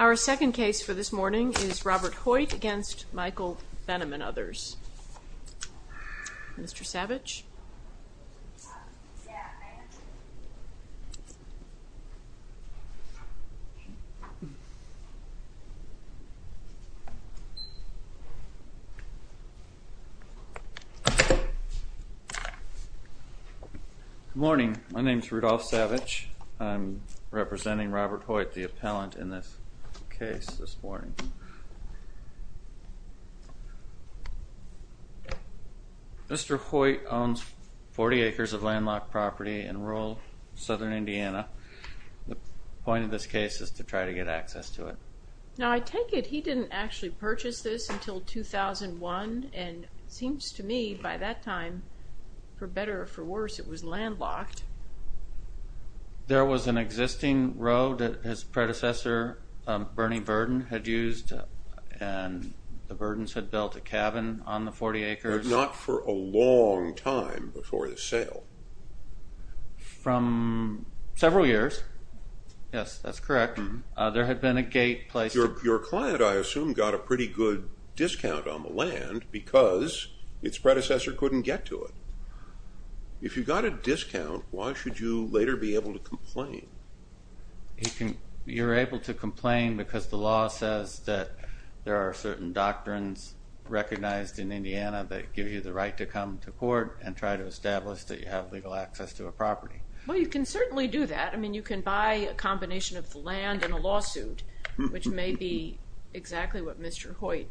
Our second case for this morning is Robert Hoyt v. Michael Benham and others. Mr. Savage. Good morning. My name is Rudolph Savage. I'm representing Robert Hoyt, the appellant in this case this morning. Mr. Hoyt owns 40 acres of landlocked property in rural southern Indiana. The point of this case is to try to get access to it. Now I take it he didn't actually purchase this until 2001, and it seems to me by that time, for better or for worse, it was landlocked. There was an existing road that his predecessor, Bernie Verden, had used, and the Verdens had built a cabin on the 40 acres. But not for a long time before the sale. From several years. Yes, that's correct. There had been a gate placed. Your client, I assume, got a pretty good discount on the land because its predecessor couldn't get to it. If you got a discount, why should you later be able to complain? You're able to complain because the law says that there are certain doctrines recognized in Indiana that give you the right to come to court and try to establish that you have legal access to a property. Well, you can certainly do that. I mean, you can buy a combination of the land and a lawsuit, which may be exactly what Mr. Hoyt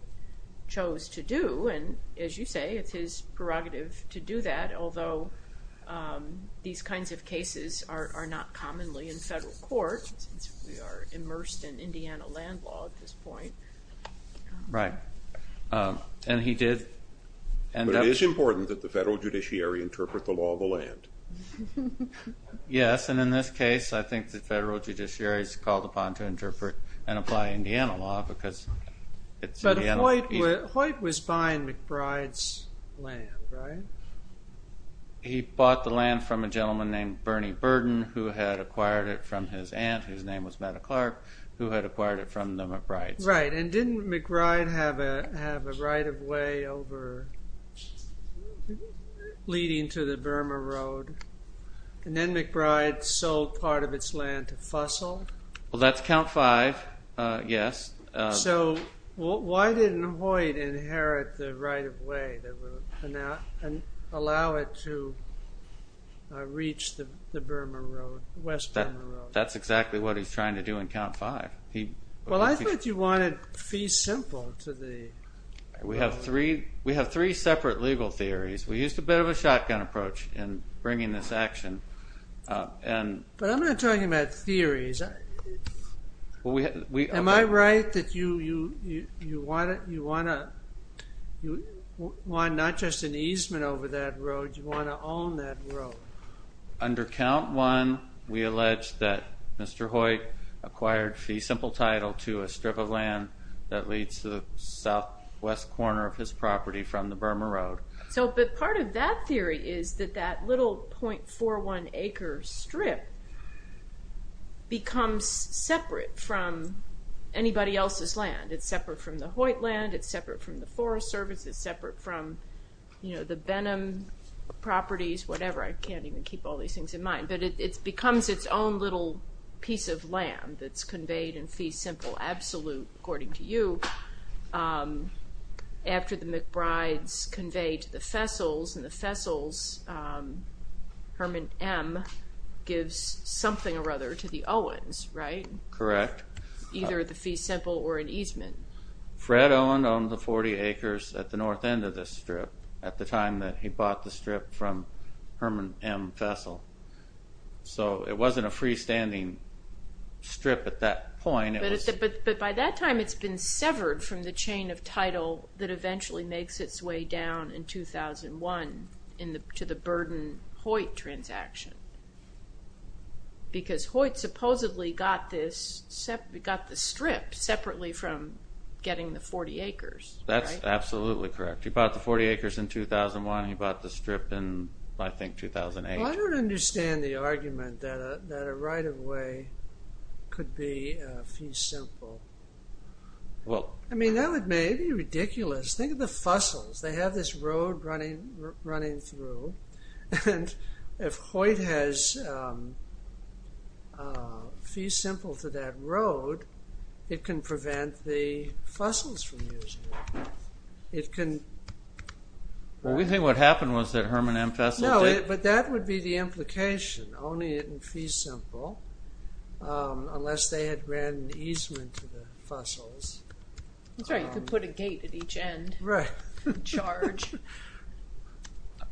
chose to do. And as you say, it's his prerogative to do that, although these kinds of cases are not commonly in federal court, since we are immersed in Indiana land law at this point. But it is important that the federal judiciary interpret the law of the land. Yes, and in this case, I think the federal judiciary is called upon to interpret and apply Indiana law. But Hoyt was buying McBride's land, right? He bought the land from a gentleman named Bernie Burden, who had acquired it from his aunt, whose name was Mattie Clark, who had acquired it from the McBrides. Right, and didn't McBride have a right-of-way over leading to the Burma Road? And then McBride sold part of its land to Fussell? Well, that's count five, yes. So why didn't Hoyt inherit the right-of-way that would allow it to reach the Burma Road, West Burma Road? That's exactly what he's trying to do in count five. Well, I thought you wanted fee simple to the road. We have three separate legal theories. We used a bit of a shotgun approach in bringing this action. But I'm not talking about theories. Am I right that you want not just an easement over that road, you want to own that road? Under count one, we allege that Mr. Hoyt acquired fee simple title to a strip of land that leads to the southwest corner of his property from the Burma Road. But part of that theory is that that little .41 acre strip becomes separate from anybody else's land. It's separate from the Hoyt land, it's separate from the Forest Service, it's separate from the Benham properties, whatever. I can't even keep all these things in mind. But it becomes its own little piece of land that's conveyed in fee simple absolute, according to you, after the McBrides convey to the Fessels, and the Fessels, Herman M, gives something or other to the Owens, right? Correct. Either the fee simple or an easement. Fred Owen owned the 40 acres at the north end of this strip at the time that he bought the strip from Herman M. Fessel. So it wasn't a freestanding strip at that point. But by that time it's been severed from the chain of title that eventually makes its way down in 2001 to the Burden-Hoyt transaction. Because Hoyt supposedly got the strip separately from getting the 40 acres, right? That's absolutely correct. He bought the 40 acres in 2001 and he bought the strip in, I think, 2008. Well, I don't understand the argument that a right-of-way could be fee simple. I mean, that would be ridiculous. Think of the Fessels. They have this road running through. And if Hoyt has fee simple to that road, it can prevent the Fessels from using it. Well, we think what happened was that Herman M. Fessel did. But that would be the implication, owning it in fee simple, unless they had ran an easement to the Fessels. That's right. You could put a gate at each end and charge.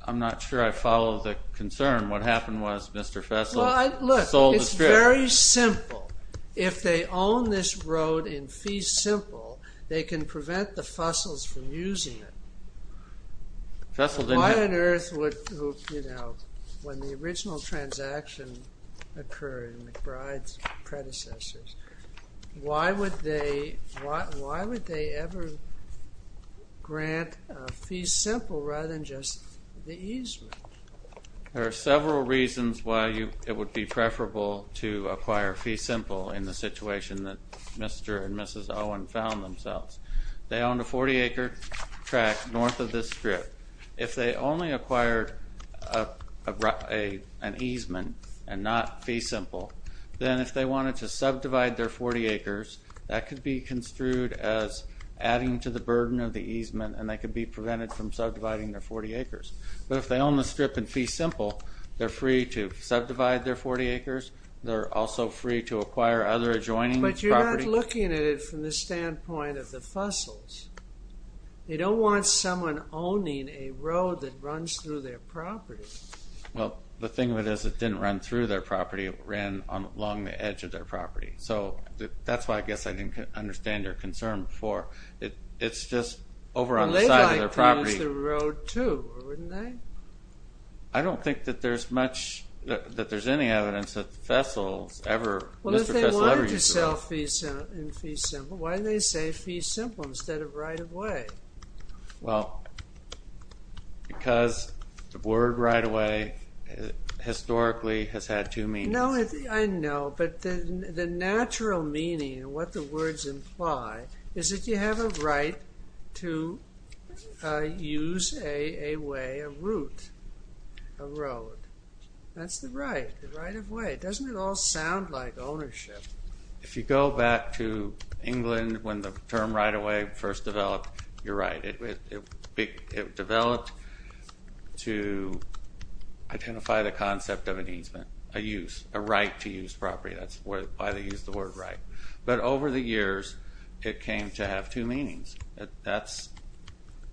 I'm not sure I follow the concern. What happened was Mr. Fessel sold the strip. Well, look, it's very simple. If they own this road in fee simple, they can prevent the Fessels from using it. Why on earth would, you know, when the original transaction occurred, McBride's predecessors, why would they ever grant a fee simple rather than just the easement? There are several reasons why it would be preferable to acquire fee simple in the situation that Mr. and Mrs. Owen found themselves. They owned a 40-acre tract north of this strip. If they only acquired an easement and not fee simple, then if they wanted to subdivide their 40 acres, that could be construed as adding to the burden of the easement, and they could be prevented from subdividing their 40 acres. But if they own the strip in fee simple, they're free to subdivide their 40 acres. They're also free to acquire other adjoining property. But looking at it from the standpoint of the Fessels, they don't want someone owning a road that runs through their property. Well, the thing of it is it didn't run through their property. It ran along the edge of their property. So that's why I guess I didn't understand your concern before. It's just over on the side of their property. Well, they'd like to use the road, too, wouldn't they? I don't think that there's much, that there's any evidence that the Fessels ever, Mr. Fessel ever used the road. Well, in fee simple, why do they say fee simple instead of right-of-way? Well, because the word right-of-way historically has had two meanings. No, I know, but the natural meaning of what the words imply is that you have a right to use a way, a route, a road. That's the right, the right-of-way. Doesn't it all sound like ownership? If you go back to England when the term right-of-way first developed, you're right. It developed to identify the concept of an easement, a use, a right to use property. That's why they use the word right. But over the years, it came to have two meanings. That's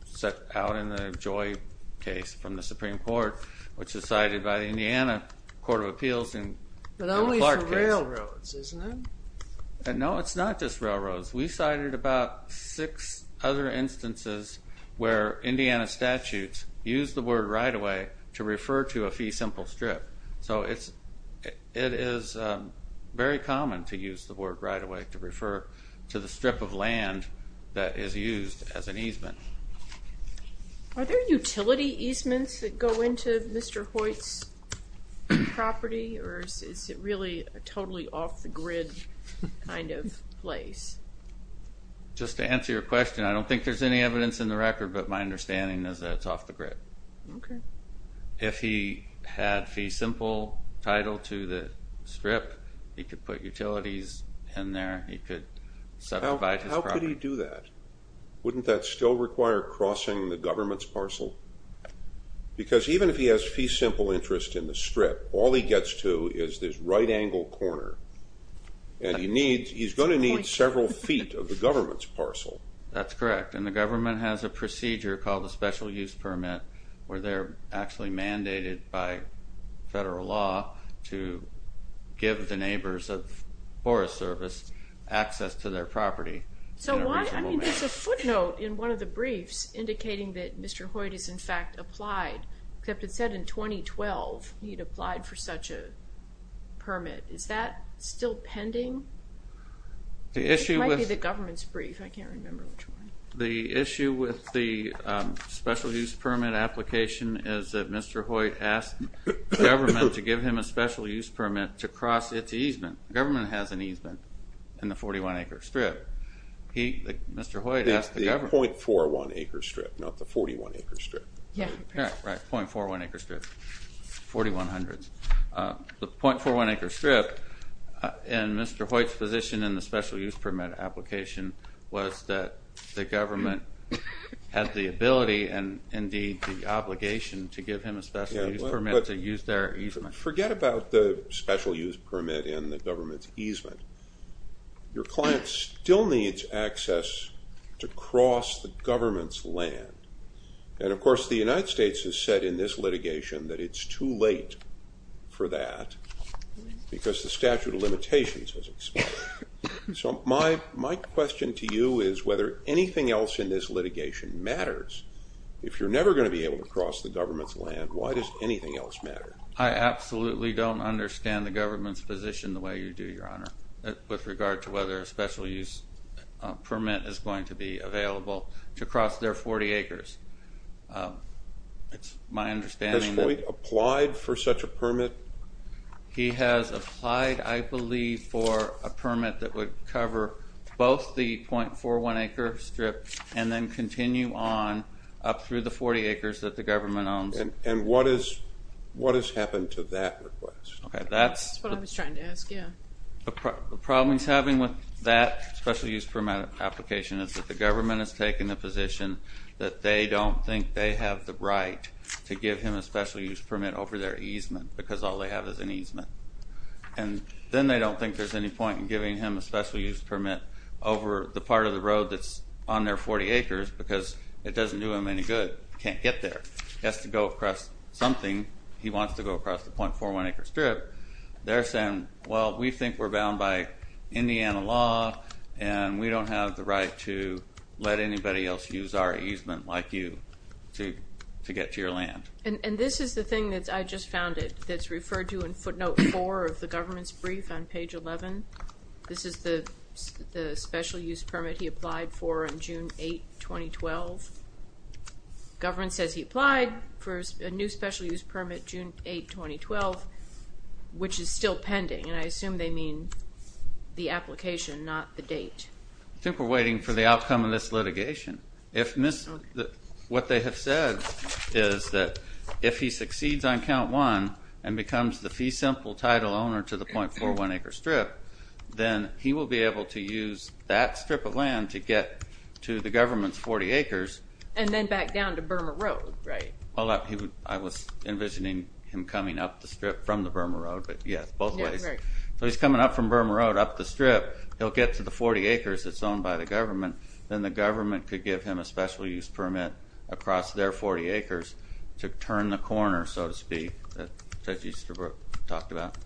set out in the Joy case from the Supreme Court, which is cited by the Indiana Court of Appeals in the Clark case. But only for railroads, isn't it? No, it's not just railroads. We cited about six other instances where Indiana statutes use the word right-of-way to refer to a fee simple strip. So it is very common to use the word right-of-way to refer to the strip of land that is used as an easement. Are there utility easements that go into Mr. Hoyt's property, or is it really a totally off-the-grid kind of place? Just to answer your question, I don't think there's any evidence in the record, but my understanding is that it's off the grid. Okay. If he had fee simple title to the strip, he could put utilities in there, he could subdivide his property. How could he do that? Wouldn't that still require crossing the government's parcel? Because even if he has fee simple interest in the strip, all he gets to is this right-angle corner. And he's going to need several feet of the government's parcel. That's correct. And the government has a procedure called a special use permit where they're actually mandated by federal law to give the neighbors of Forest Service access to their property. So why? I mean, there's a footnote in one of the briefs indicating that Mr. Hoyt is, in fact, applied, except it said in 2012 he'd applied for such a permit. Is that still pending? It might be the government's brief. I can't remember which one. The issue with the special use permit application is that Mr. Hoyt asked the government to give him a special use permit to cross its easement. The government has an easement in the 41-acre strip. Mr. Hoyt asked the government. It's the 0.41-acre strip, not the 41-acre strip. Yeah. Right, 0.41-acre strip, 4100s. The 0.41-acre strip in Mr. Hoyt's position in the special use permit application was that the government had the ability and, indeed, the obligation to give him a special use permit to use their easement. Forget about the special use permit and the government's easement. Your client still needs access to cross the government's land. And, of course, the United States has said in this litigation that it's too late for that because the statute of limitations was expired. So my question to you is whether anything else in this litigation matters. If you're never going to be able to cross the government's land, why does anything else matter? I absolutely don't understand the government's position the way you do, Your Honor, with regard to whether a special use permit is going to be available to cross their 40 acres. It's my understanding that... Has Hoyt applied for such a permit? He has applied, I believe, for a permit that would cover both the 0.41-acre strip and then continue on up through the 40 acres that the government owns. And what has happened to that request? That's what I was trying to ask, yeah. The problem he's having with that special use permit application is that the government has taken the position that they don't think they have the right to give him a special use permit over their easement because all they have is an easement. And then they don't think there's any point in giving him a special use permit over the part of the road that's on their 40 acres because it doesn't do him any good. He can't get there. He has to go across something. He wants to go across the 0.41-acre strip. They're saying, well, we think we're bound by Indiana law, and we don't have the right to let anybody else use our easement like you to get to your land. And this is the thing that I just found that's referred to in footnote 4 of the government's brief on page 11. This is the special use permit he applied for on June 8, 2012. The government says he applied for a new special use permit June 8, 2012, which is still pending, and I assume they mean the application, not the date. I think we're waiting for the outcome of this litigation. What they have said is that if he succeeds on count one and becomes the fee simple title owner to the 0.41-acre strip, then he will be able to use that strip of land to get to the government's 40 acres. And then back down to Burma Road, right? Well, I was envisioning him coming up the strip from the Burma Road, but yes, both ways. So he's coming up from Burma Road up the strip. He'll get to the 40 acres that's owned by the government. Then the government could give him a special use permit across their 40 acres to turn the corner, so to speak, that Judge Easterbrook talked about,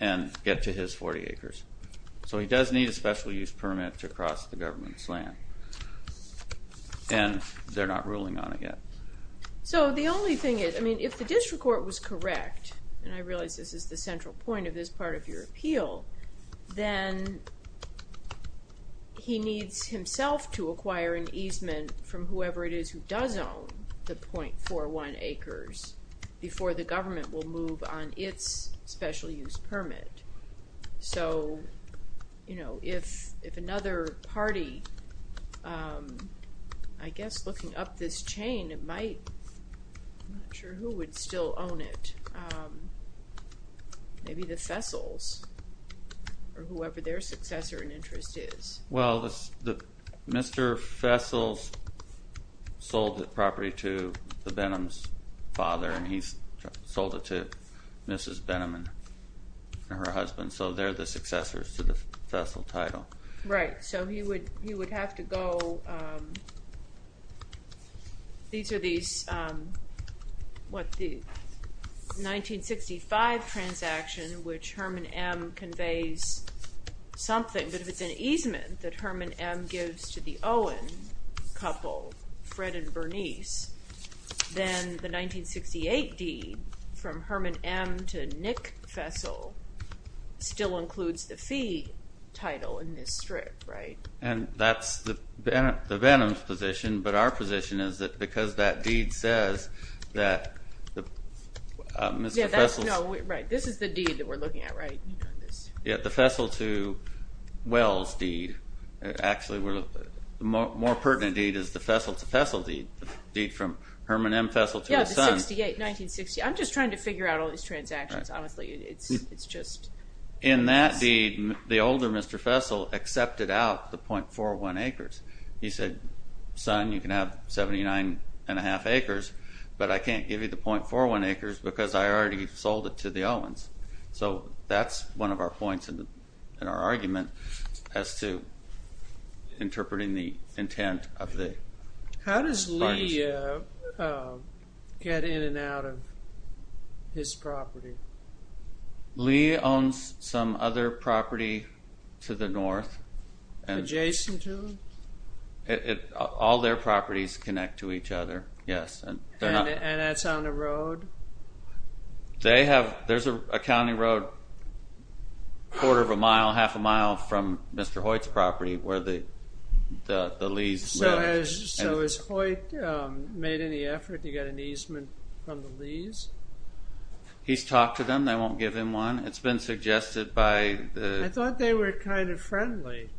and get to his 40 acres. So he does need a special use permit to cross the government's land, and they're not ruling on it yet. So the only thing is, I mean, if the district court was correct, and I realize this is the central point of this part of your appeal, then he needs himself to acquire an easement from whoever it is who does own the 0.41 acres before the government will move on its special use permit. So, you know, if another party, I guess looking up this chain, it might, I'm not sure who would still own it, maybe the Fessels, or whoever their successor in interest is. Well, Mr. Fessels sold the property to the Benham's father, and he sold it to Mrs. Benham and her husband, so they're the successors to the Fessel title. Right, so he would have to go, these are these, what, the 1965 transaction, which Herman M. conveys something, but if it's an easement that Herman M. gives to the Owen couple, Fred and Bernice, then the 1968 deed from Herman M. to Nick Fessel still includes the fee title in this strip, right? And that's the Benham's position, but our position is that because that deed says that Mr. Fessel's... Yeah, that's, no, right, this is the deed that we're looking at, right? Yeah, the Fessel to Wells deed, actually, the more pertinent deed is the Fessel to Fessel deed, the deed from Herman M. Fessel to his son. Yeah, the 1968, 1960, I'm just trying to figure out all these transactions, honestly, it's just... In that deed, the older Mr. Fessel accepted out the .41 acres. He said, son, you can have 79 and a half acres, but I can't give you the .41 acres because I already sold it to the Owens. So that's one of our points in our argument as to interpreting the intent of the partnership. How does Lee get in and out of his property? Lee owns some other property to the north. Adjacent to him? All their properties connect to each other, yes. And that's on a road? They have, there's a county road, quarter of a mile, half a mile from Mr. Hoyt's property where the Lees live. So has Hoyt made any effort to get an easement from the Lees? He's talked to them, they won't give him one. It's been suggested by the... I thought they were kind of friendly,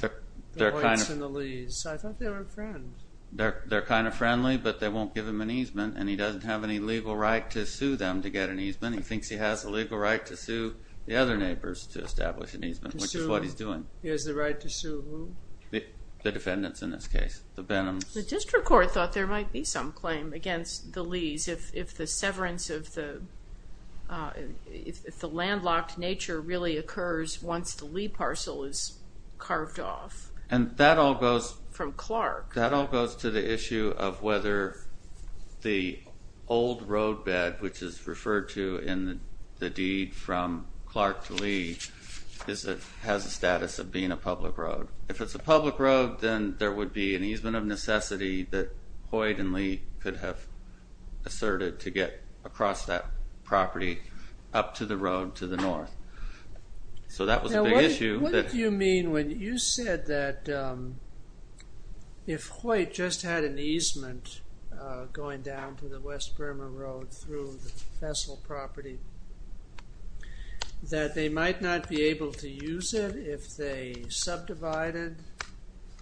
the Hoyts and the Lees. I thought they were friends. They're kind of friendly, but they won't give him an easement, and he doesn't have any legal right to sue them to get an easement. He thinks he has a legal right to sue the other neighbors to establish an easement, which is what he's doing. He has the right to sue who? The defendants in this case, the Benhams. The district court thought there might be some claim against the Lees if the severance of the, if the landlocked nature really occurs once the Lee parcel is carved off. And that all goes... That all goes to the issue of whether the old roadbed, which is referred to in the deed from Clark to Lee, has a status of being a public road. If it's a public road, then there would be an easement of necessity that Hoyt and Lee could have asserted to get across that property up to the road to the north. So that was a big issue. What did you mean when you said that if Hoyt just had an easement going down to the West Burma Road through the Fessel property, that they might not be able to use it if they subdivided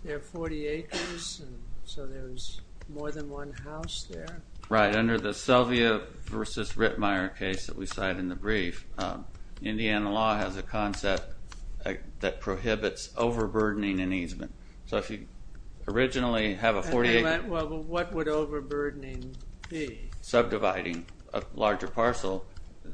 their 40 acres, so there was more than one house there? Right, under the Selvia v. Rittmeyer case that we cite in the brief, Indiana law has a concept that prohibits overburdening and easement. So if you originally have a 40-acre... Well, what would overburdening be? Subdividing a larger parcel.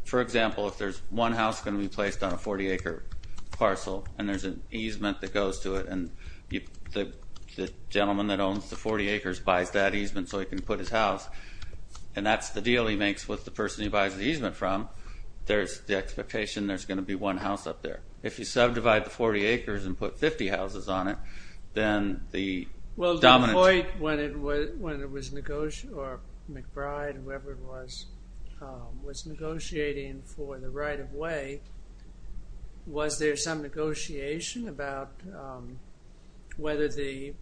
For example, if there's one house going to be placed on a 40-acre parcel and there's an easement that goes to it and the gentleman that owns the 40 acres buys that easement so he can put his house, and that's the deal he makes with the person he buys the easement from, there's the expectation there's going to be one house up there. If you subdivide the 40 acres and put 50 houses on it, then the dominant... Well, did Hoyt, or McBride, whoever it was, was negotiating for the right-of-way, was there some negotiation about whether there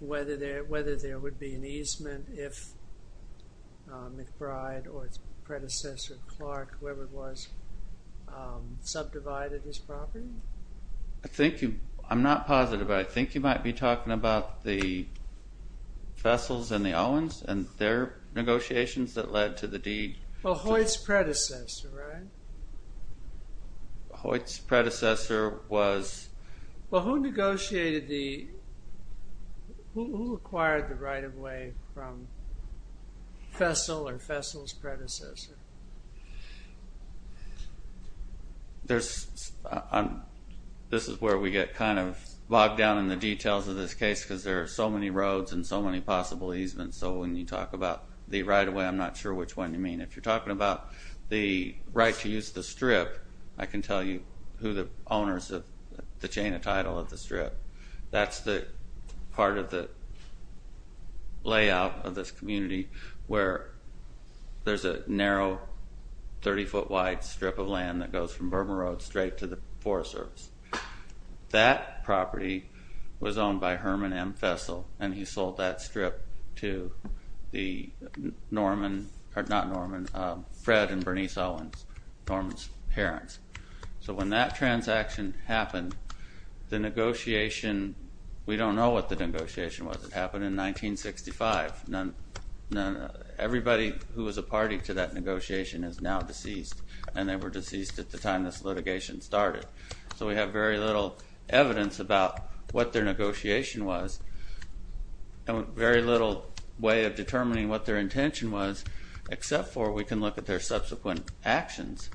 would be an easement if McBride or its predecessor, Clark, whoever it was, subdivided his property? I'm not positive, but I think you might be talking about the Vessels and the Owens and their negotiations that led to the deed. Well, Hoyt's predecessor, right? Hoyt's predecessor was... Well, who negotiated the... Who acquired the right-of-way from Vessel or Vessel's predecessor? This is where we get kind of bogged down in the details of this case because there are so many roads and so many possible easements, so when you talk about the right-of-way, I'm not sure which one you mean. If you're talking about the right to use the strip, I can tell you who the owners of the chain of title of the strip. That's the part of the layout of this community where there's a narrow 30-foot-wide strip of land that goes from Bourbon Road straight to the Forest Service. That property was owned by Herman M. Vessel, and he sold that strip to the Norman... So when that transaction happened, the negotiation... We don't know what the negotiation was. It happened in 1965. Everybody who was a party to that negotiation is now deceased, and they were deceased at the time this litigation started. So we have very little evidence about what their negotiation was and very little way of determining what their intention was except for we can look at their subsequent actions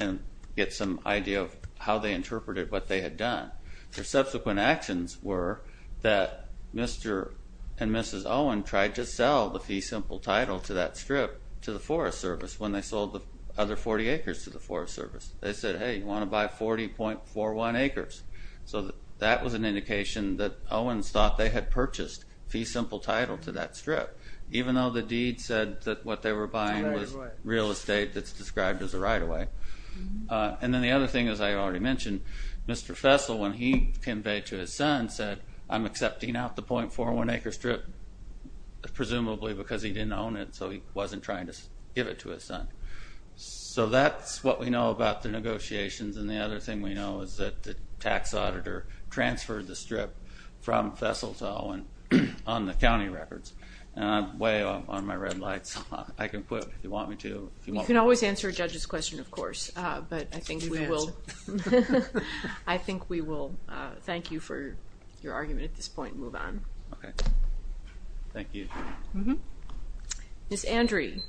and get some idea of how they interpreted what they had done. Their subsequent actions were that Mr. and Mrs. Owen tried to sell the Fee Simple title to that strip to the Forest Service when they sold the other 40 acres to the Forest Service. They said, hey, you want to buy 40.41 acres. So that was an indication that Owens thought they had purchased Fee Simple title to that strip, even though the deed said that what they were buying was real estate that's described as a right-of-way. And then the other thing, as I already mentioned, Mr. Vessel, when he conveyed to his son, said, I'm accepting out the .41-acre strip, presumably because he didn't own it, so he wasn't trying to give it to his son. So that's what we know about the negotiations, and the other thing we know is that the tax auditor transferred the strip from Vessel to Owen on the county records. And I'm way on my red lights. I can quit if you want me to. You can always answer a judge's question, of course, but I think we will thank you for your argument at this point and move on. Okay. Thank you. Ms. Andrie.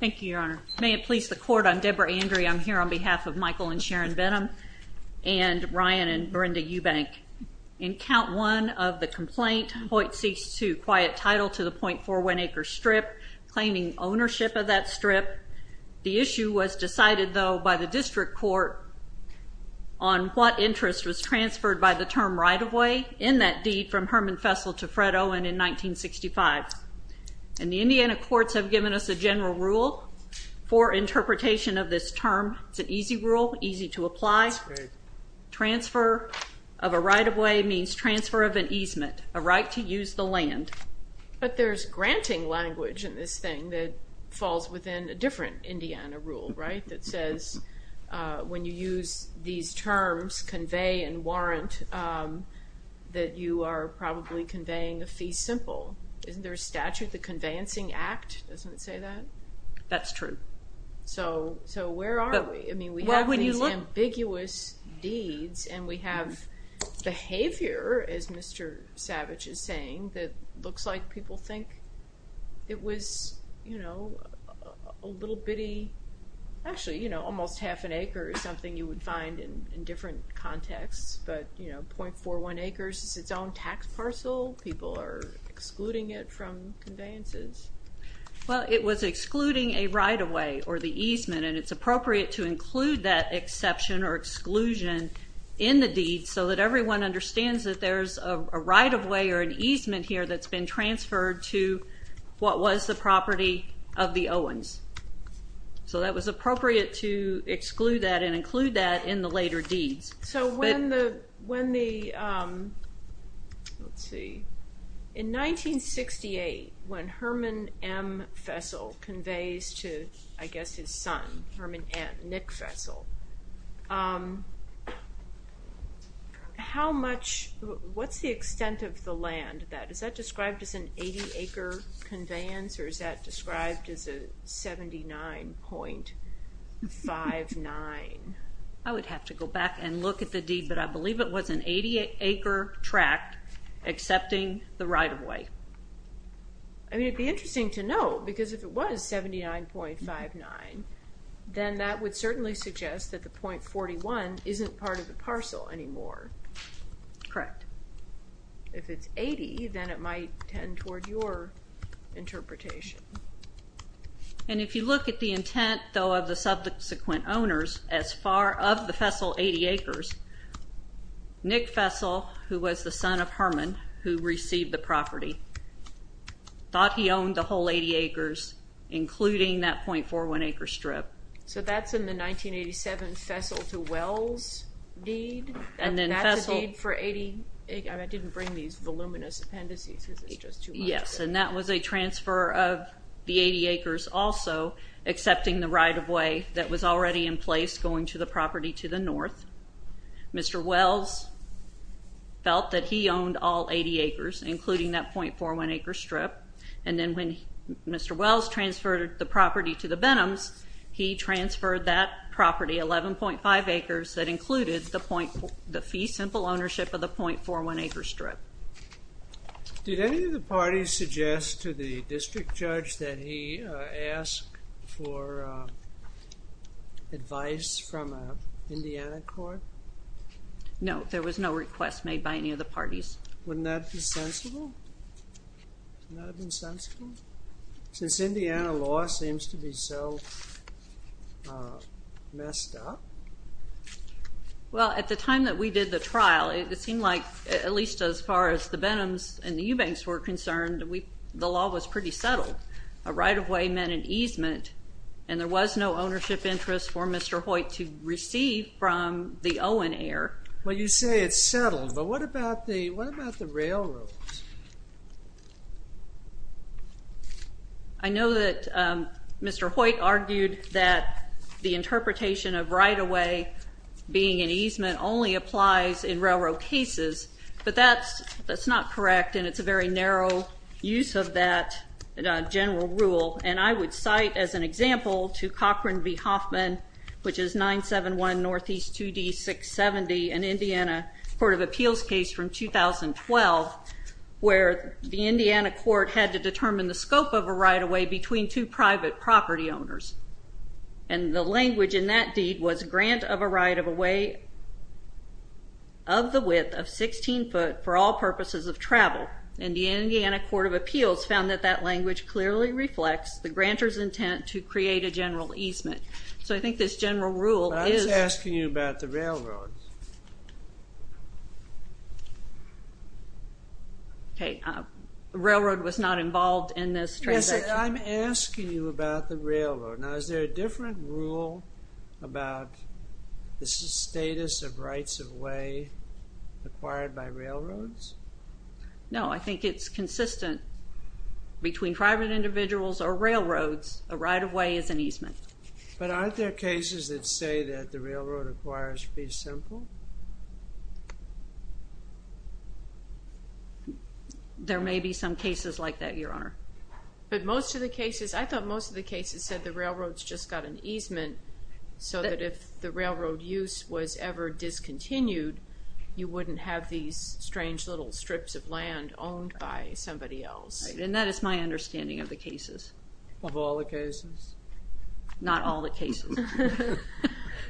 Thank you, Your Honor. May it please the Court, I'm Deborah Andrie. I'm here on behalf of Michael and Sharon Benham and Ryan and Brenda Eubank. In count one of the complaint, Hoyt ceased to quiet title to the .41-acre strip, claiming ownership of that strip. The issue was decided, though, by the district court on what interest was transferred by the term right-of-way in that deed from Herman Vessel to Fred Owen in 1965. And the Indiana courts have given us a general rule for interpretation of this term. It's an easy rule, easy to apply. Transfer of a right-of-way means transfer of an easement, a right to use the land. But there's granting language in this thing that falls within a different Indiana rule, right, that says when you use these terms, convey and warrant, that you are probably conveying a fee simple. Isn't there a statute, the Conveyancing Act, doesn't it say that? That's true. So where are we? I mean, we have these ambiguous deeds, and we have behavior, as Mr. Savage is saying, that looks like people think it was a little bitty. Actually, almost half an acre is something you would find in different contexts, but .41 acres is its own tax parcel. People are excluding it from conveyances. Well, it was excluding a right-of-way or the easement, and it's appropriate to include that exception or exclusion in the deed so that everyone understands that there's a right-of-way or an easement here that's been transferred to what was the property of the Owens. So that was appropriate to exclude that and include that in the later deeds. So when the—let's see. In 1968, when Herman M. Fessel conveys to, I guess, his son, Herman N., Nick Fessel, how much—what's the extent of the land? Is that described as an 80-acre conveyance, or is that described as a 79.59? I would have to go back and look at the deed, but I believe it was an 80-acre tract accepting the right-of-way. I mean, it would be interesting to know, because if it was 79.59, then that would certainly suggest that the .41 isn't part of the parcel anymore. Correct. If it's 80, then it might tend toward your interpretation. And if you look at the intent, though, of the subsequent owners, of the Fessel 80 acres, Nick Fessel, who was the son of Herman, who received the property, thought he owned the whole 80 acres, including that .41-acre strip. So that's in the 1987 Fessel to Wells deed, and that's a deed for 80— I didn't bring these voluminous appendices because it's just too much. Yes, and that was a transfer of the 80 acres also, accepting the right-of-way that was already in place, going to the property to the north. Mr. Wells felt that he owned all 80 acres, including that .41-acre strip. And then when Mr. Wells transferred the property to the Benhams, he transferred that property, 11.5 acres, that included the fee simple ownership of the .41-acre strip. Did any of the parties suggest to the district judge that he ask for advice from an Indiana court? No, there was no request made by any of the parties. Wouldn't that be sensible? Wouldn't that have been sensible? Since Indiana law seems to be so messed up. Well, at the time that we did the trial, it seemed like at least as far as the Benhams and the Eubanks were concerned, the law was pretty settled. A right-of-way meant an easement, and there was no ownership interest for Mr. Hoyt to receive from the Owen heir. Well, you say it's settled, but what about the railroads? I know that Mr. Hoyt argued that the interpretation of right-of-way being an easement only applies in railroad cases, but that's not correct, and it's a very narrow use of that general rule. And I would cite as an example to Cochran v. Hoffman, which is 971 Northeast 2D670, an Indiana Court of Appeals case from 2012, where the Indiana court had to determine the scope of a right-of-way between two private property owners. And the language in that deed was grant of a right-of-way of the width of 16 foot for all purposes of travel. And the Indiana Court of Appeals found that that language clearly reflects the grantor's intent to create a general easement. So I think this general rule is— I was asking you about the railroad. Okay. Railroad was not involved in this transaction. Yes, I'm asking you about the railroad. Now, is there a different rule about the status of rights-of-way acquired by railroads? No, I think it's consistent. Between private individuals or railroads, a right-of-way is an easement. But aren't there cases that say that the railroad acquirers be simple? There may be some cases like that, Your Honor. But most of the cases—I thought most of the cases said the railroads just got an easement so that if the railroad use was ever discontinued, you wouldn't have these strange little strips of land owned by somebody else. Right, and that is my understanding of the cases. Of all the cases? Not all the cases.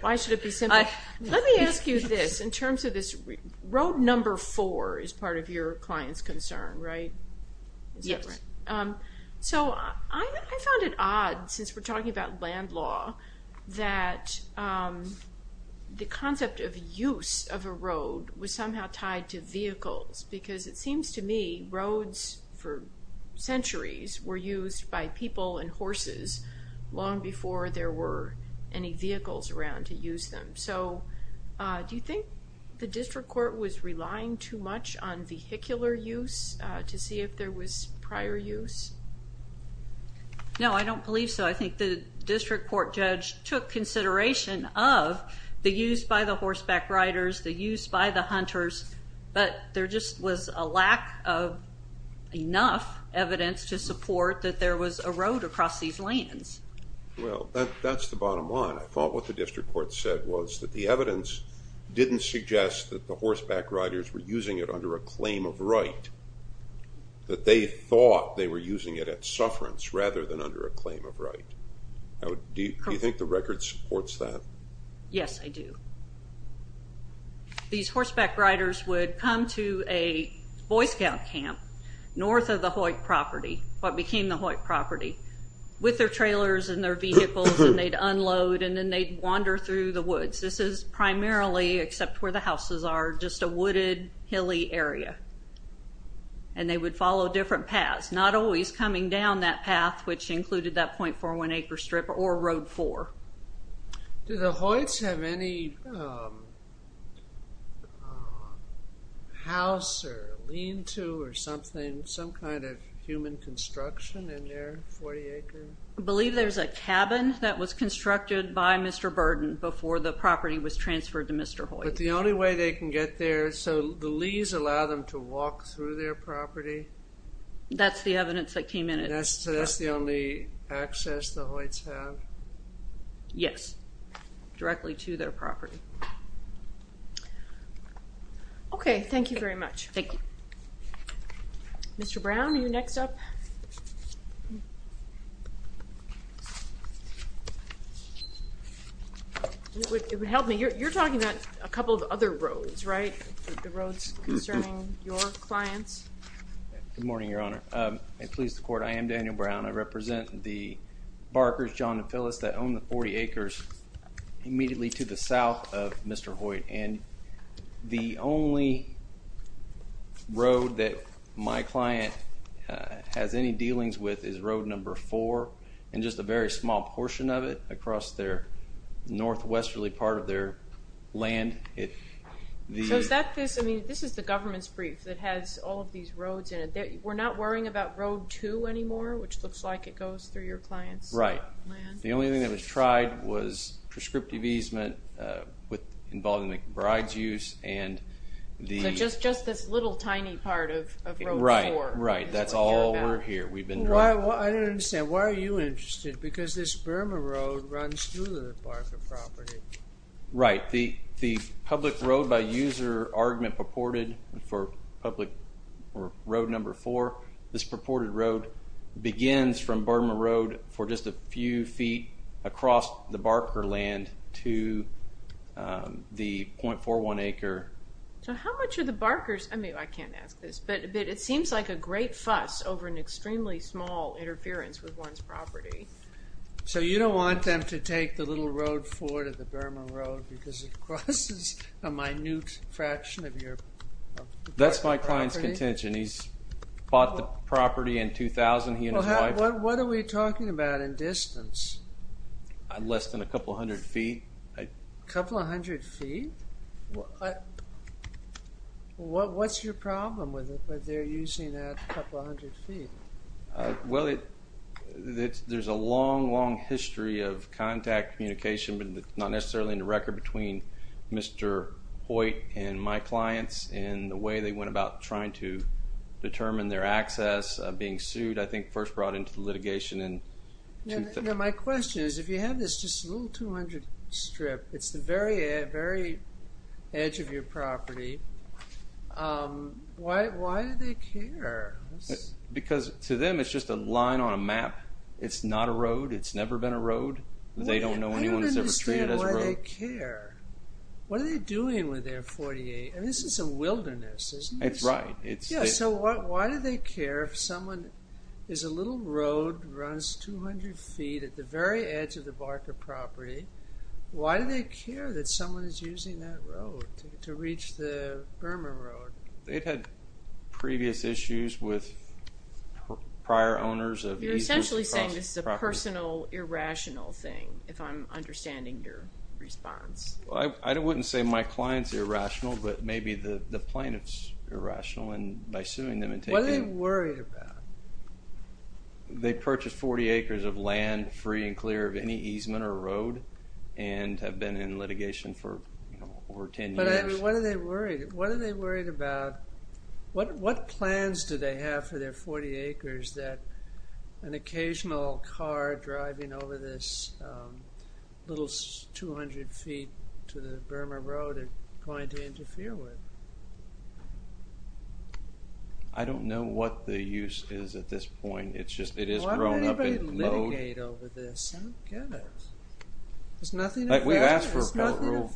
Why should it be simple? Let me ask you this. In terms of this—road number four is part of your client's concern, right? Yes. So I found it odd, since we're talking about land law, that the concept of use of a road was somehow tied to vehicles because it seems to me roads for centuries were used by people and horses long before there were any vehicles around to use them. So do you think the district court was relying too much on vehicular use to see if there was prior use? No, I don't believe so. I think the district court judge took consideration of the use by the horseback riders, the use by the hunters, but there just was a lack of enough evidence to support that there was a road across these lands. Well, that's the bottom line. I thought what the district court said was that the evidence didn't suggest that the horseback riders were using it under a claim of right, that they thought they were using it at sufferance rather than under a claim of right. Do you think the record supports that? Yes, I do. These horseback riders would come to a Boy Scout camp north of the Hoyt property, what became the Hoyt property, with their trailers and their vehicles, and they'd unload, and then they'd wander through the woods. This is primarily, except where the houses are, just a wooded, hilly area, and they would follow different paths, not always coming down that path, which included that .41-acre strip or Road 4. Do the Hoyts have any house or lean-to or something, some kind of human construction in their 40-acre? I believe there's a cabin that was constructed by Mr. Burden before the property was transferred to Mr. Hoyt. But the only way they can get there, so the lees allow them to walk through their property? That's the evidence that came in. So that's the only access the Hoyts have? Yes, directly to their property. Okay, thank you very much. Thank you. Mr. Brown, are you next up? It would help me. You're talking about a couple of other roads, right, the roads concerning your clients? Good morning, Your Honor. It pleases the Court. I am Daniel Brown. I represent the Barkers, John and Phyllis, that own the 40 acres immediately to the south of Mr. Hoyt. And the only road that my client has any dealings with is Road 4, and just a very small portion of it across the northwesterly part of their land. So is that this? I mean, this is the government's brief that has all of these roads in it. We're not worrying about Road 2 anymore, which looks like it goes through your client's land? Right. The only thing that was tried was prescriptive easement involving the bride's use. So just this little tiny part of Road 4? Right, right. That's all we're here. I don't understand. Why are you interested? Because this Burma Road runs through the Barker property. Right. The public road-by-user argument purported for Road 4, this purported road begins from Burma Road for just a few feet across the Barker land to the 0.41 acre. So how much are the Barkers? I mean, I can't ask this, but it seems like a great fuss over an extremely small interference with one's property. So you don't want them to take the little road 4 to the Burma Road because it crosses a minute fraction of your property? That's my client's contention. He's bought the property in 2000, he and his wife. What are we talking about in distance? Less than a couple hundred feet. A couple hundred feet? What's your problem with it, that they're using that couple hundred feet? Well, there's a long, long history of contact communication, but not necessarily in the record between Mr. Hoyt and my clients and the way they went about trying to determine their access of being sued, I think first brought into litigation in 2000. My question is, if you have this little 200 strip, it's the very edge of your property, why do they care? Because to them it's just a line on a map. It's not a road. It's never been a road. They don't know anyone that's ever treated as a road. I don't understand why they care. What are they doing with their 48? And this is a wilderness, isn't this? It's right. Yeah, so why do they care if someone, there's a little road that runs 200 feet at the very edge of the Barker property. Why do they care that someone is using that road to reach the Burma Road? They've had previous issues with prior owners of these. You're essentially saying this is a personal, irrational thing if I'm understanding your response. I wouldn't say my client's irrational, but maybe the plaintiff's irrational by suing them. What are they worried about? They purchased 40 acres of land free and clear of any easement or road and have been in litigation for over 10 years. What are they worried about? What plans do they have for their 40 acres that an occasional car driving over this little 200 feet to the Burma Road are going to interfere with? I don't know what the use is at this point. It's just it has grown up in load. Why would anybody litigate over this? I don't get it. There's nothing of value. We've asked for a court rule.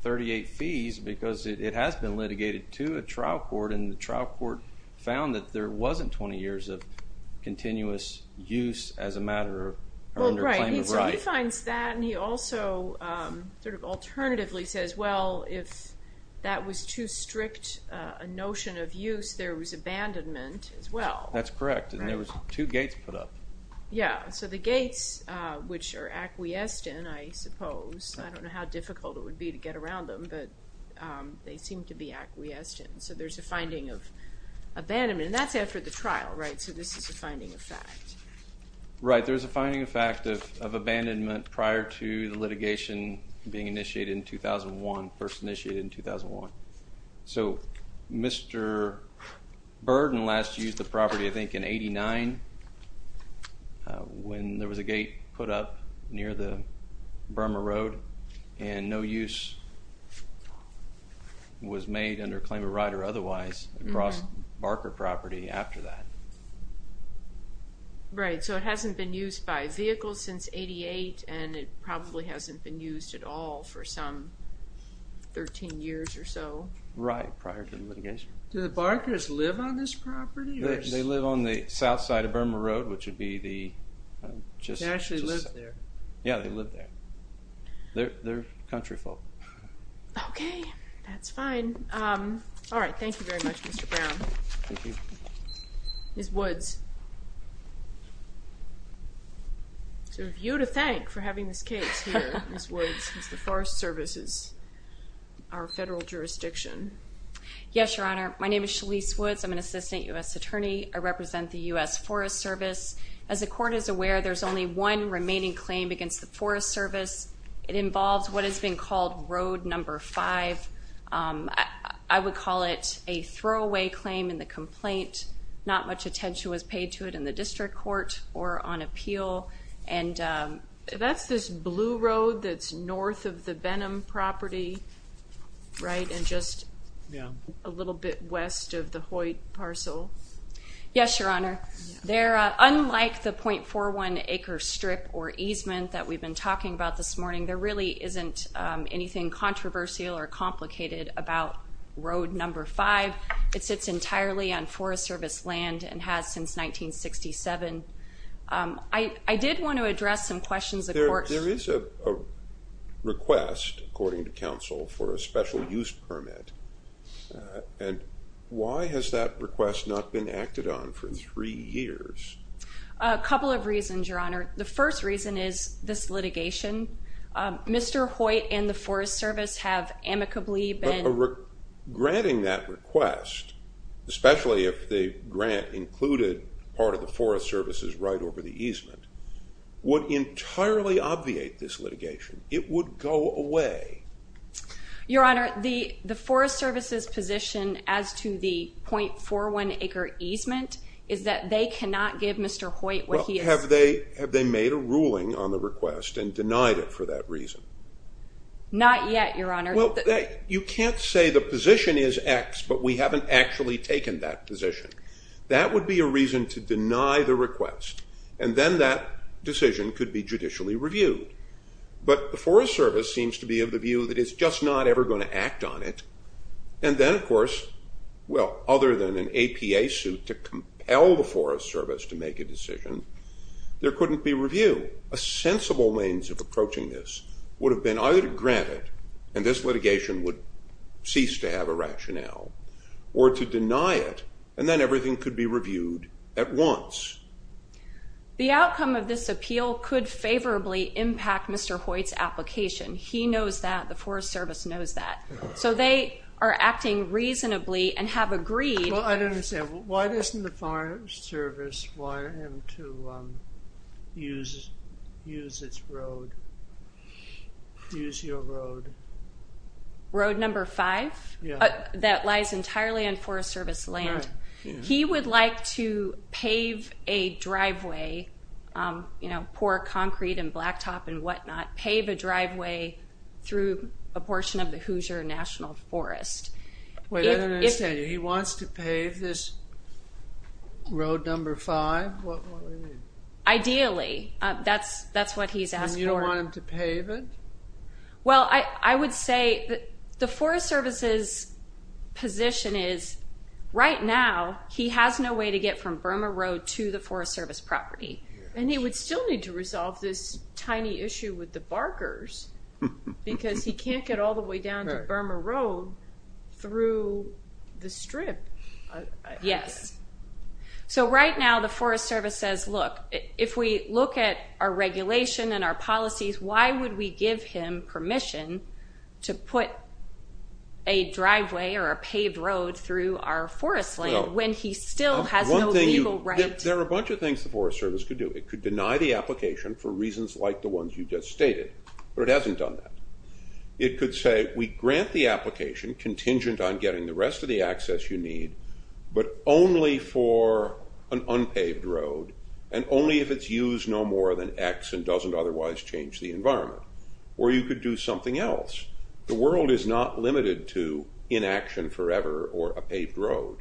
38 fees because it has been litigated to a trial court, and the trial court found that there wasn't 20 years of continuous use as a matter of claim of right. He finds that, and he also sort of alternatively says, well, if that was too strict a notion of use, there was abandonment as well. That's correct, and there was two gates put up. Yeah, so the gates, which are acquiesced in, I suppose. I don't know how difficult it would be to get around them, but they seem to be acquiesced in. So there's a finding of abandonment, and that's after the trial, right? So this is a finding of fact. Right, there's a finding of fact of abandonment prior to the litigation being initiated in 2001, first initiated in 2001. So Mr. Burden last used the property, I think, in 89, when there was a gate put up near the Burma Road, and no use was made under claim of right or otherwise across Barker property after that. Right, so it hasn't been used by vehicles since 88, and it probably hasn't been used at all for some 13 years or so. Right, prior to the litigation. Do the Barkers live on this property? They live on the south side of Burma Road, which would be the... They actually live there. Yeah, they live there. They're country folk. Okay, that's fine. All right, thank you very much, Mr. Brown. Thank you. Ms. Woods. You to thank for having this case here, Ms. Woods. It's the Forest Services, our federal jurisdiction. Yes, Your Honor. My name is Shalise Woods. I'm an assistant U.S. attorney. I represent the U.S. Forest Service. As the court is aware, there's only one remaining claim against the Forest Service. It involves what has been called Road No. 5. I would call it a throwaway claim in the complaint. Not much attention was paid to it in the district court or on appeal. That's this blue road that's north of the Benham property, right, and just a little bit west of the Hoyt parcel. Yes, Your Honor. Unlike the .41 acre strip or easement that we've been talking about this morning, there really isn't anything controversial or complicated about Road No. 5. It sits entirely on Forest Service land and has since 1967. I did want to address some questions the court... There is a request, according to counsel, for a special use permit, and why has that request not been acted on for three years? A couple of reasons, Your Honor. The first reason is this litigation. Mr. Hoyt and the Forest Service have amicably been... Granting that request, especially if the grant included part of the Forest Service's right over the easement, would entirely obviate this litigation. It would go away. Your Honor, the Forest Service's position as to the .41 acre easement is that they cannot give Mr. Hoyt what he... Well, have they made a ruling on the request and denied it for that reason? Not yet, Your Honor. You can't say the position is X, but we haven't actually taken that position. That would be a reason to deny the request, and then that decision could be judicially reviewed. But the Forest Service seems to be of the view that it's just not ever going to act on it, and then, of course, well, other than an APA suit to compel the Forest Service to make a decision, there couldn't be review. A sensible means of approaching this would have been either to grant it, and this litigation would cease to have a rationale, or to deny it, and then everything could be reviewed at once. The outcome of this appeal could favorably impact Mr. Hoyt's application. He knows that. The Forest Service knows that. So they are acting reasonably and have agreed. Well, I don't understand. Why doesn't the Forest Service wire him to use its road, use your road? Road number five? That lies entirely on Forest Service land. He would like to pave a driveway, pour concrete and blacktop and whatnot, pave a driveway through a portion of the Hoosier National Forest. Wait, I don't understand you. He wants to pave this road number five? Ideally. That's what he's asking for. And you don't want him to pave it? Well, I would say the Forest Service's position is right now he has no way to get from Burma Road to the Forest Service property. And he would still need to resolve this tiny issue with the barkers because he can't get all the way down to Burma Road through the strip. Yes. So right now the Forest Service says, look, if we look at our regulation and our policies, why would we give him permission to put a driveway or a paved road through our forest land when he still has no legal right? There are a bunch of things the Forest Service could do. It could deny the application for reasons like the ones you just stated, but it hasn't done that. It could say we grant the application contingent on getting the rest of the only if it's used no more than X and doesn't otherwise change the environment. Or you could do something else. The world is not limited to inaction forever or a paved road.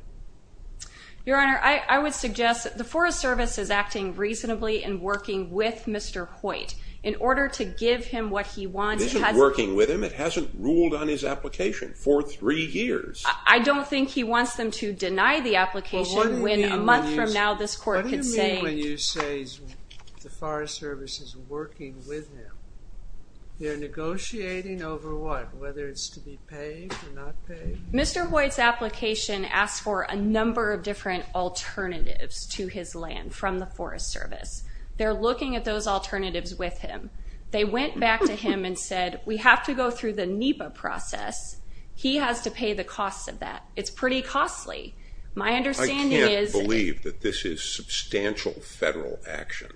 Your Honor, I would suggest that the Forest Service is acting reasonably in working with Mr. Hoyt in order to give him what he wants. It isn't working with him. It hasn't ruled on his application for three years. I don't think he wants them to deny the application when a month from now this Forest Service is working with him. They're negotiating over what? Whether it's to be paved or not paved? Mr. Hoyt's application asked for a number of different alternatives to his land from the Forest Service. They're looking at those alternatives with him. They went back to him and said, we have to go through the NEPA process. He has to pay the cost of that. It's pretty costly. I can't believe that this is substantial federal action.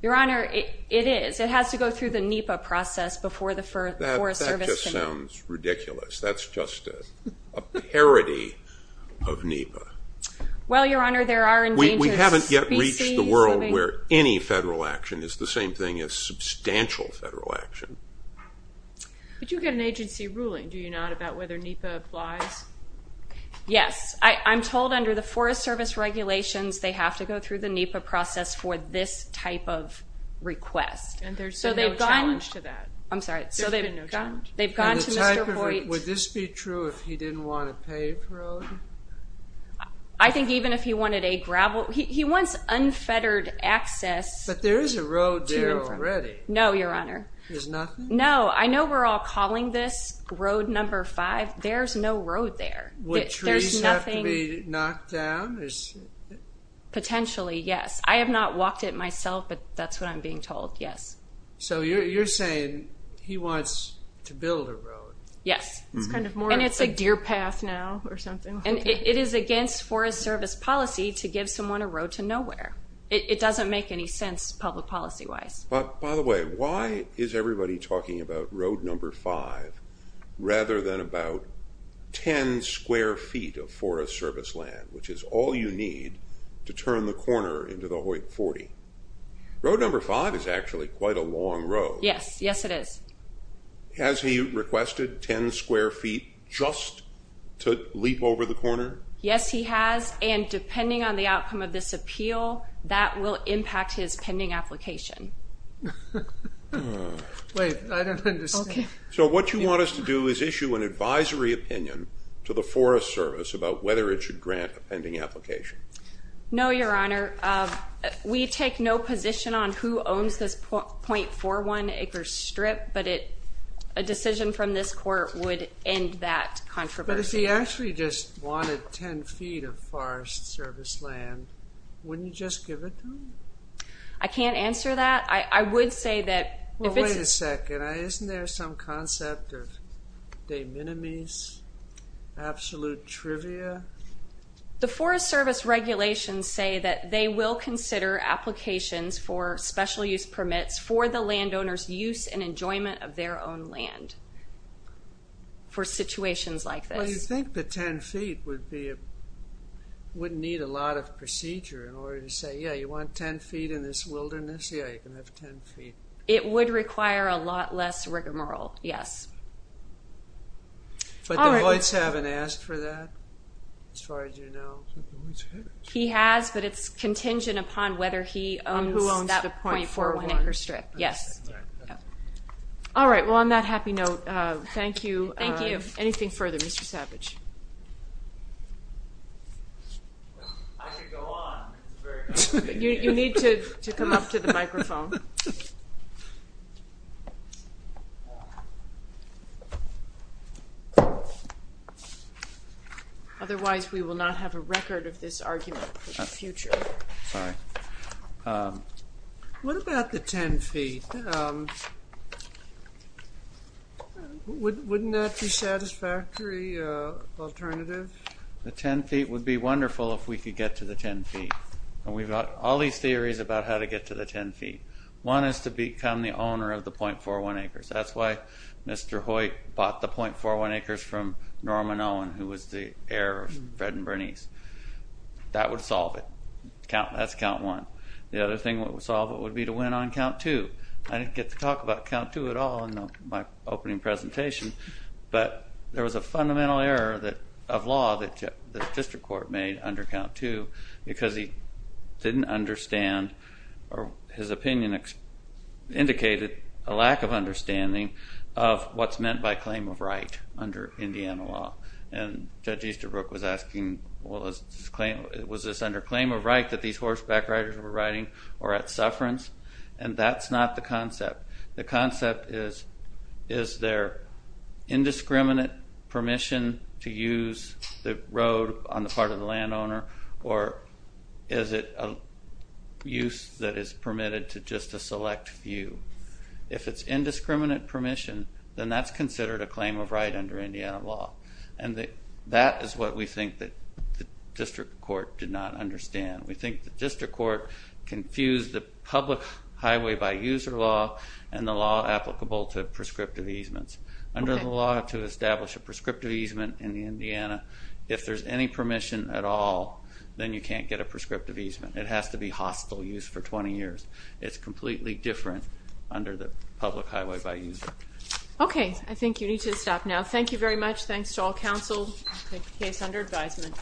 Your Honor, it is. It has to go through the NEPA process before the Forest Service can do it. That just sounds ridiculous. That's just a parody of NEPA. Well, Your Honor, there are endangered species. We haven't yet reached the world where any federal action is the same thing as substantial federal action. But you get an agency ruling, do you not, about whether NEPA applies? Yes. I'm told under the Forest Service regulations they have to go through the NEPA process for this type of request. And there's been no challenge to that? I'm sorry. There's been no challenge? They've gone to Mr. Hoyt. Would this be true if he didn't want a paved road? I think even if he wanted a gravel road. He wants unfettered access. But there is a road there already. No, Your Honor. There's nothing? No. I know we're all calling this road number five. There's no road there. Would trees have to be knocked down? Potentially, yes. I have not walked it myself, but that's what I'm being told, yes. So you're saying he wants to build a road? Yes. And it's a deer path now or something? It is against Forest Service policy to give someone a road to nowhere. It doesn't make any sense public policy-wise. By the way, why is everybody talking about road number five rather than about ten square feet of Forest Service land, which is all you need to turn the corner into the Hoyt 40? Road number five is actually quite a long road. Yes. Yes, it is. Has he requested ten square feet just to leap over the corner? Yes, he has. And depending on the outcome of this appeal, that will impact his pending application. Wait, I don't understand. So what you want us to do is issue an advisory opinion to the Forest Service about whether it should grant a pending application? No, Your Honor. We take no position on who owns this .41 acre strip, but a decision from this court would end that controversy. But if he actually just wanted ten feet of Forest Service land, wouldn't you just give it to him? I can't answer that. I would say that if it's- Well, wait a second. Isn't there some concept of de minimis, absolute trivia? The Forest Service regulations say that they will consider applications for special use permits for the landowner's use and enjoyment of their own land for situations like this. So you think the ten feet wouldn't need a lot of procedure in order to say, yeah, you want ten feet in this wilderness? Yeah, you can have ten feet. It would require a lot less rigmarole, yes. But DeVoit's haven't asked for that, as far as you know. He has, but it's contingent upon whether he owns that .41 acre strip. Yes. Thank you. Anything further, Mr. Savage? I could go on. You need to come up to the microphone. Otherwise we will not have a record of this argument in the future. Sorry. What about the ten feet? Wouldn't that be a satisfactory alternative? The ten feet would be wonderful if we could get to the ten feet. We've got all these theories about how to get to the ten feet. One is to become the owner of the .41 acres. That's why Mr. Hoyt bought the .41 acres from Norman Owen, who was the heir of Fred and Bernice. That would solve it. That's count one. The other thing that would solve it would be to win on count two. I didn't get to talk about count two at all in my opening presentation, but there was a fundamental error of law that the district court made under count two because he didn't understand or his opinion indicated a lack of understanding of what's meant by claim of right under Indiana law. And Judge Easterbrook was asking, well, was this under claim of right that these horseback riders were riding or at sufferance? And that's not the concept. The concept is, is there indiscriminate permission to use the road on the part of the landowner or is it a use that is permitted to just a select few? If it's indiscriminate permission, then that's considered a claim of right under Indiana law. And that is what we think that the district court did not understand. We think the district court confused the public highway by user law and the law applicable to prescriptive easements. Under the law to establish a prescriptive easement in Indiana, if there's any permission at all, then you can't get a prescriptive easement. It has to be hostile use for 20 years. It's completely different under the public highway by user. Okay. I think you need to stop now. Thank you very much. Thanks to all counsel. I take the case under advisement.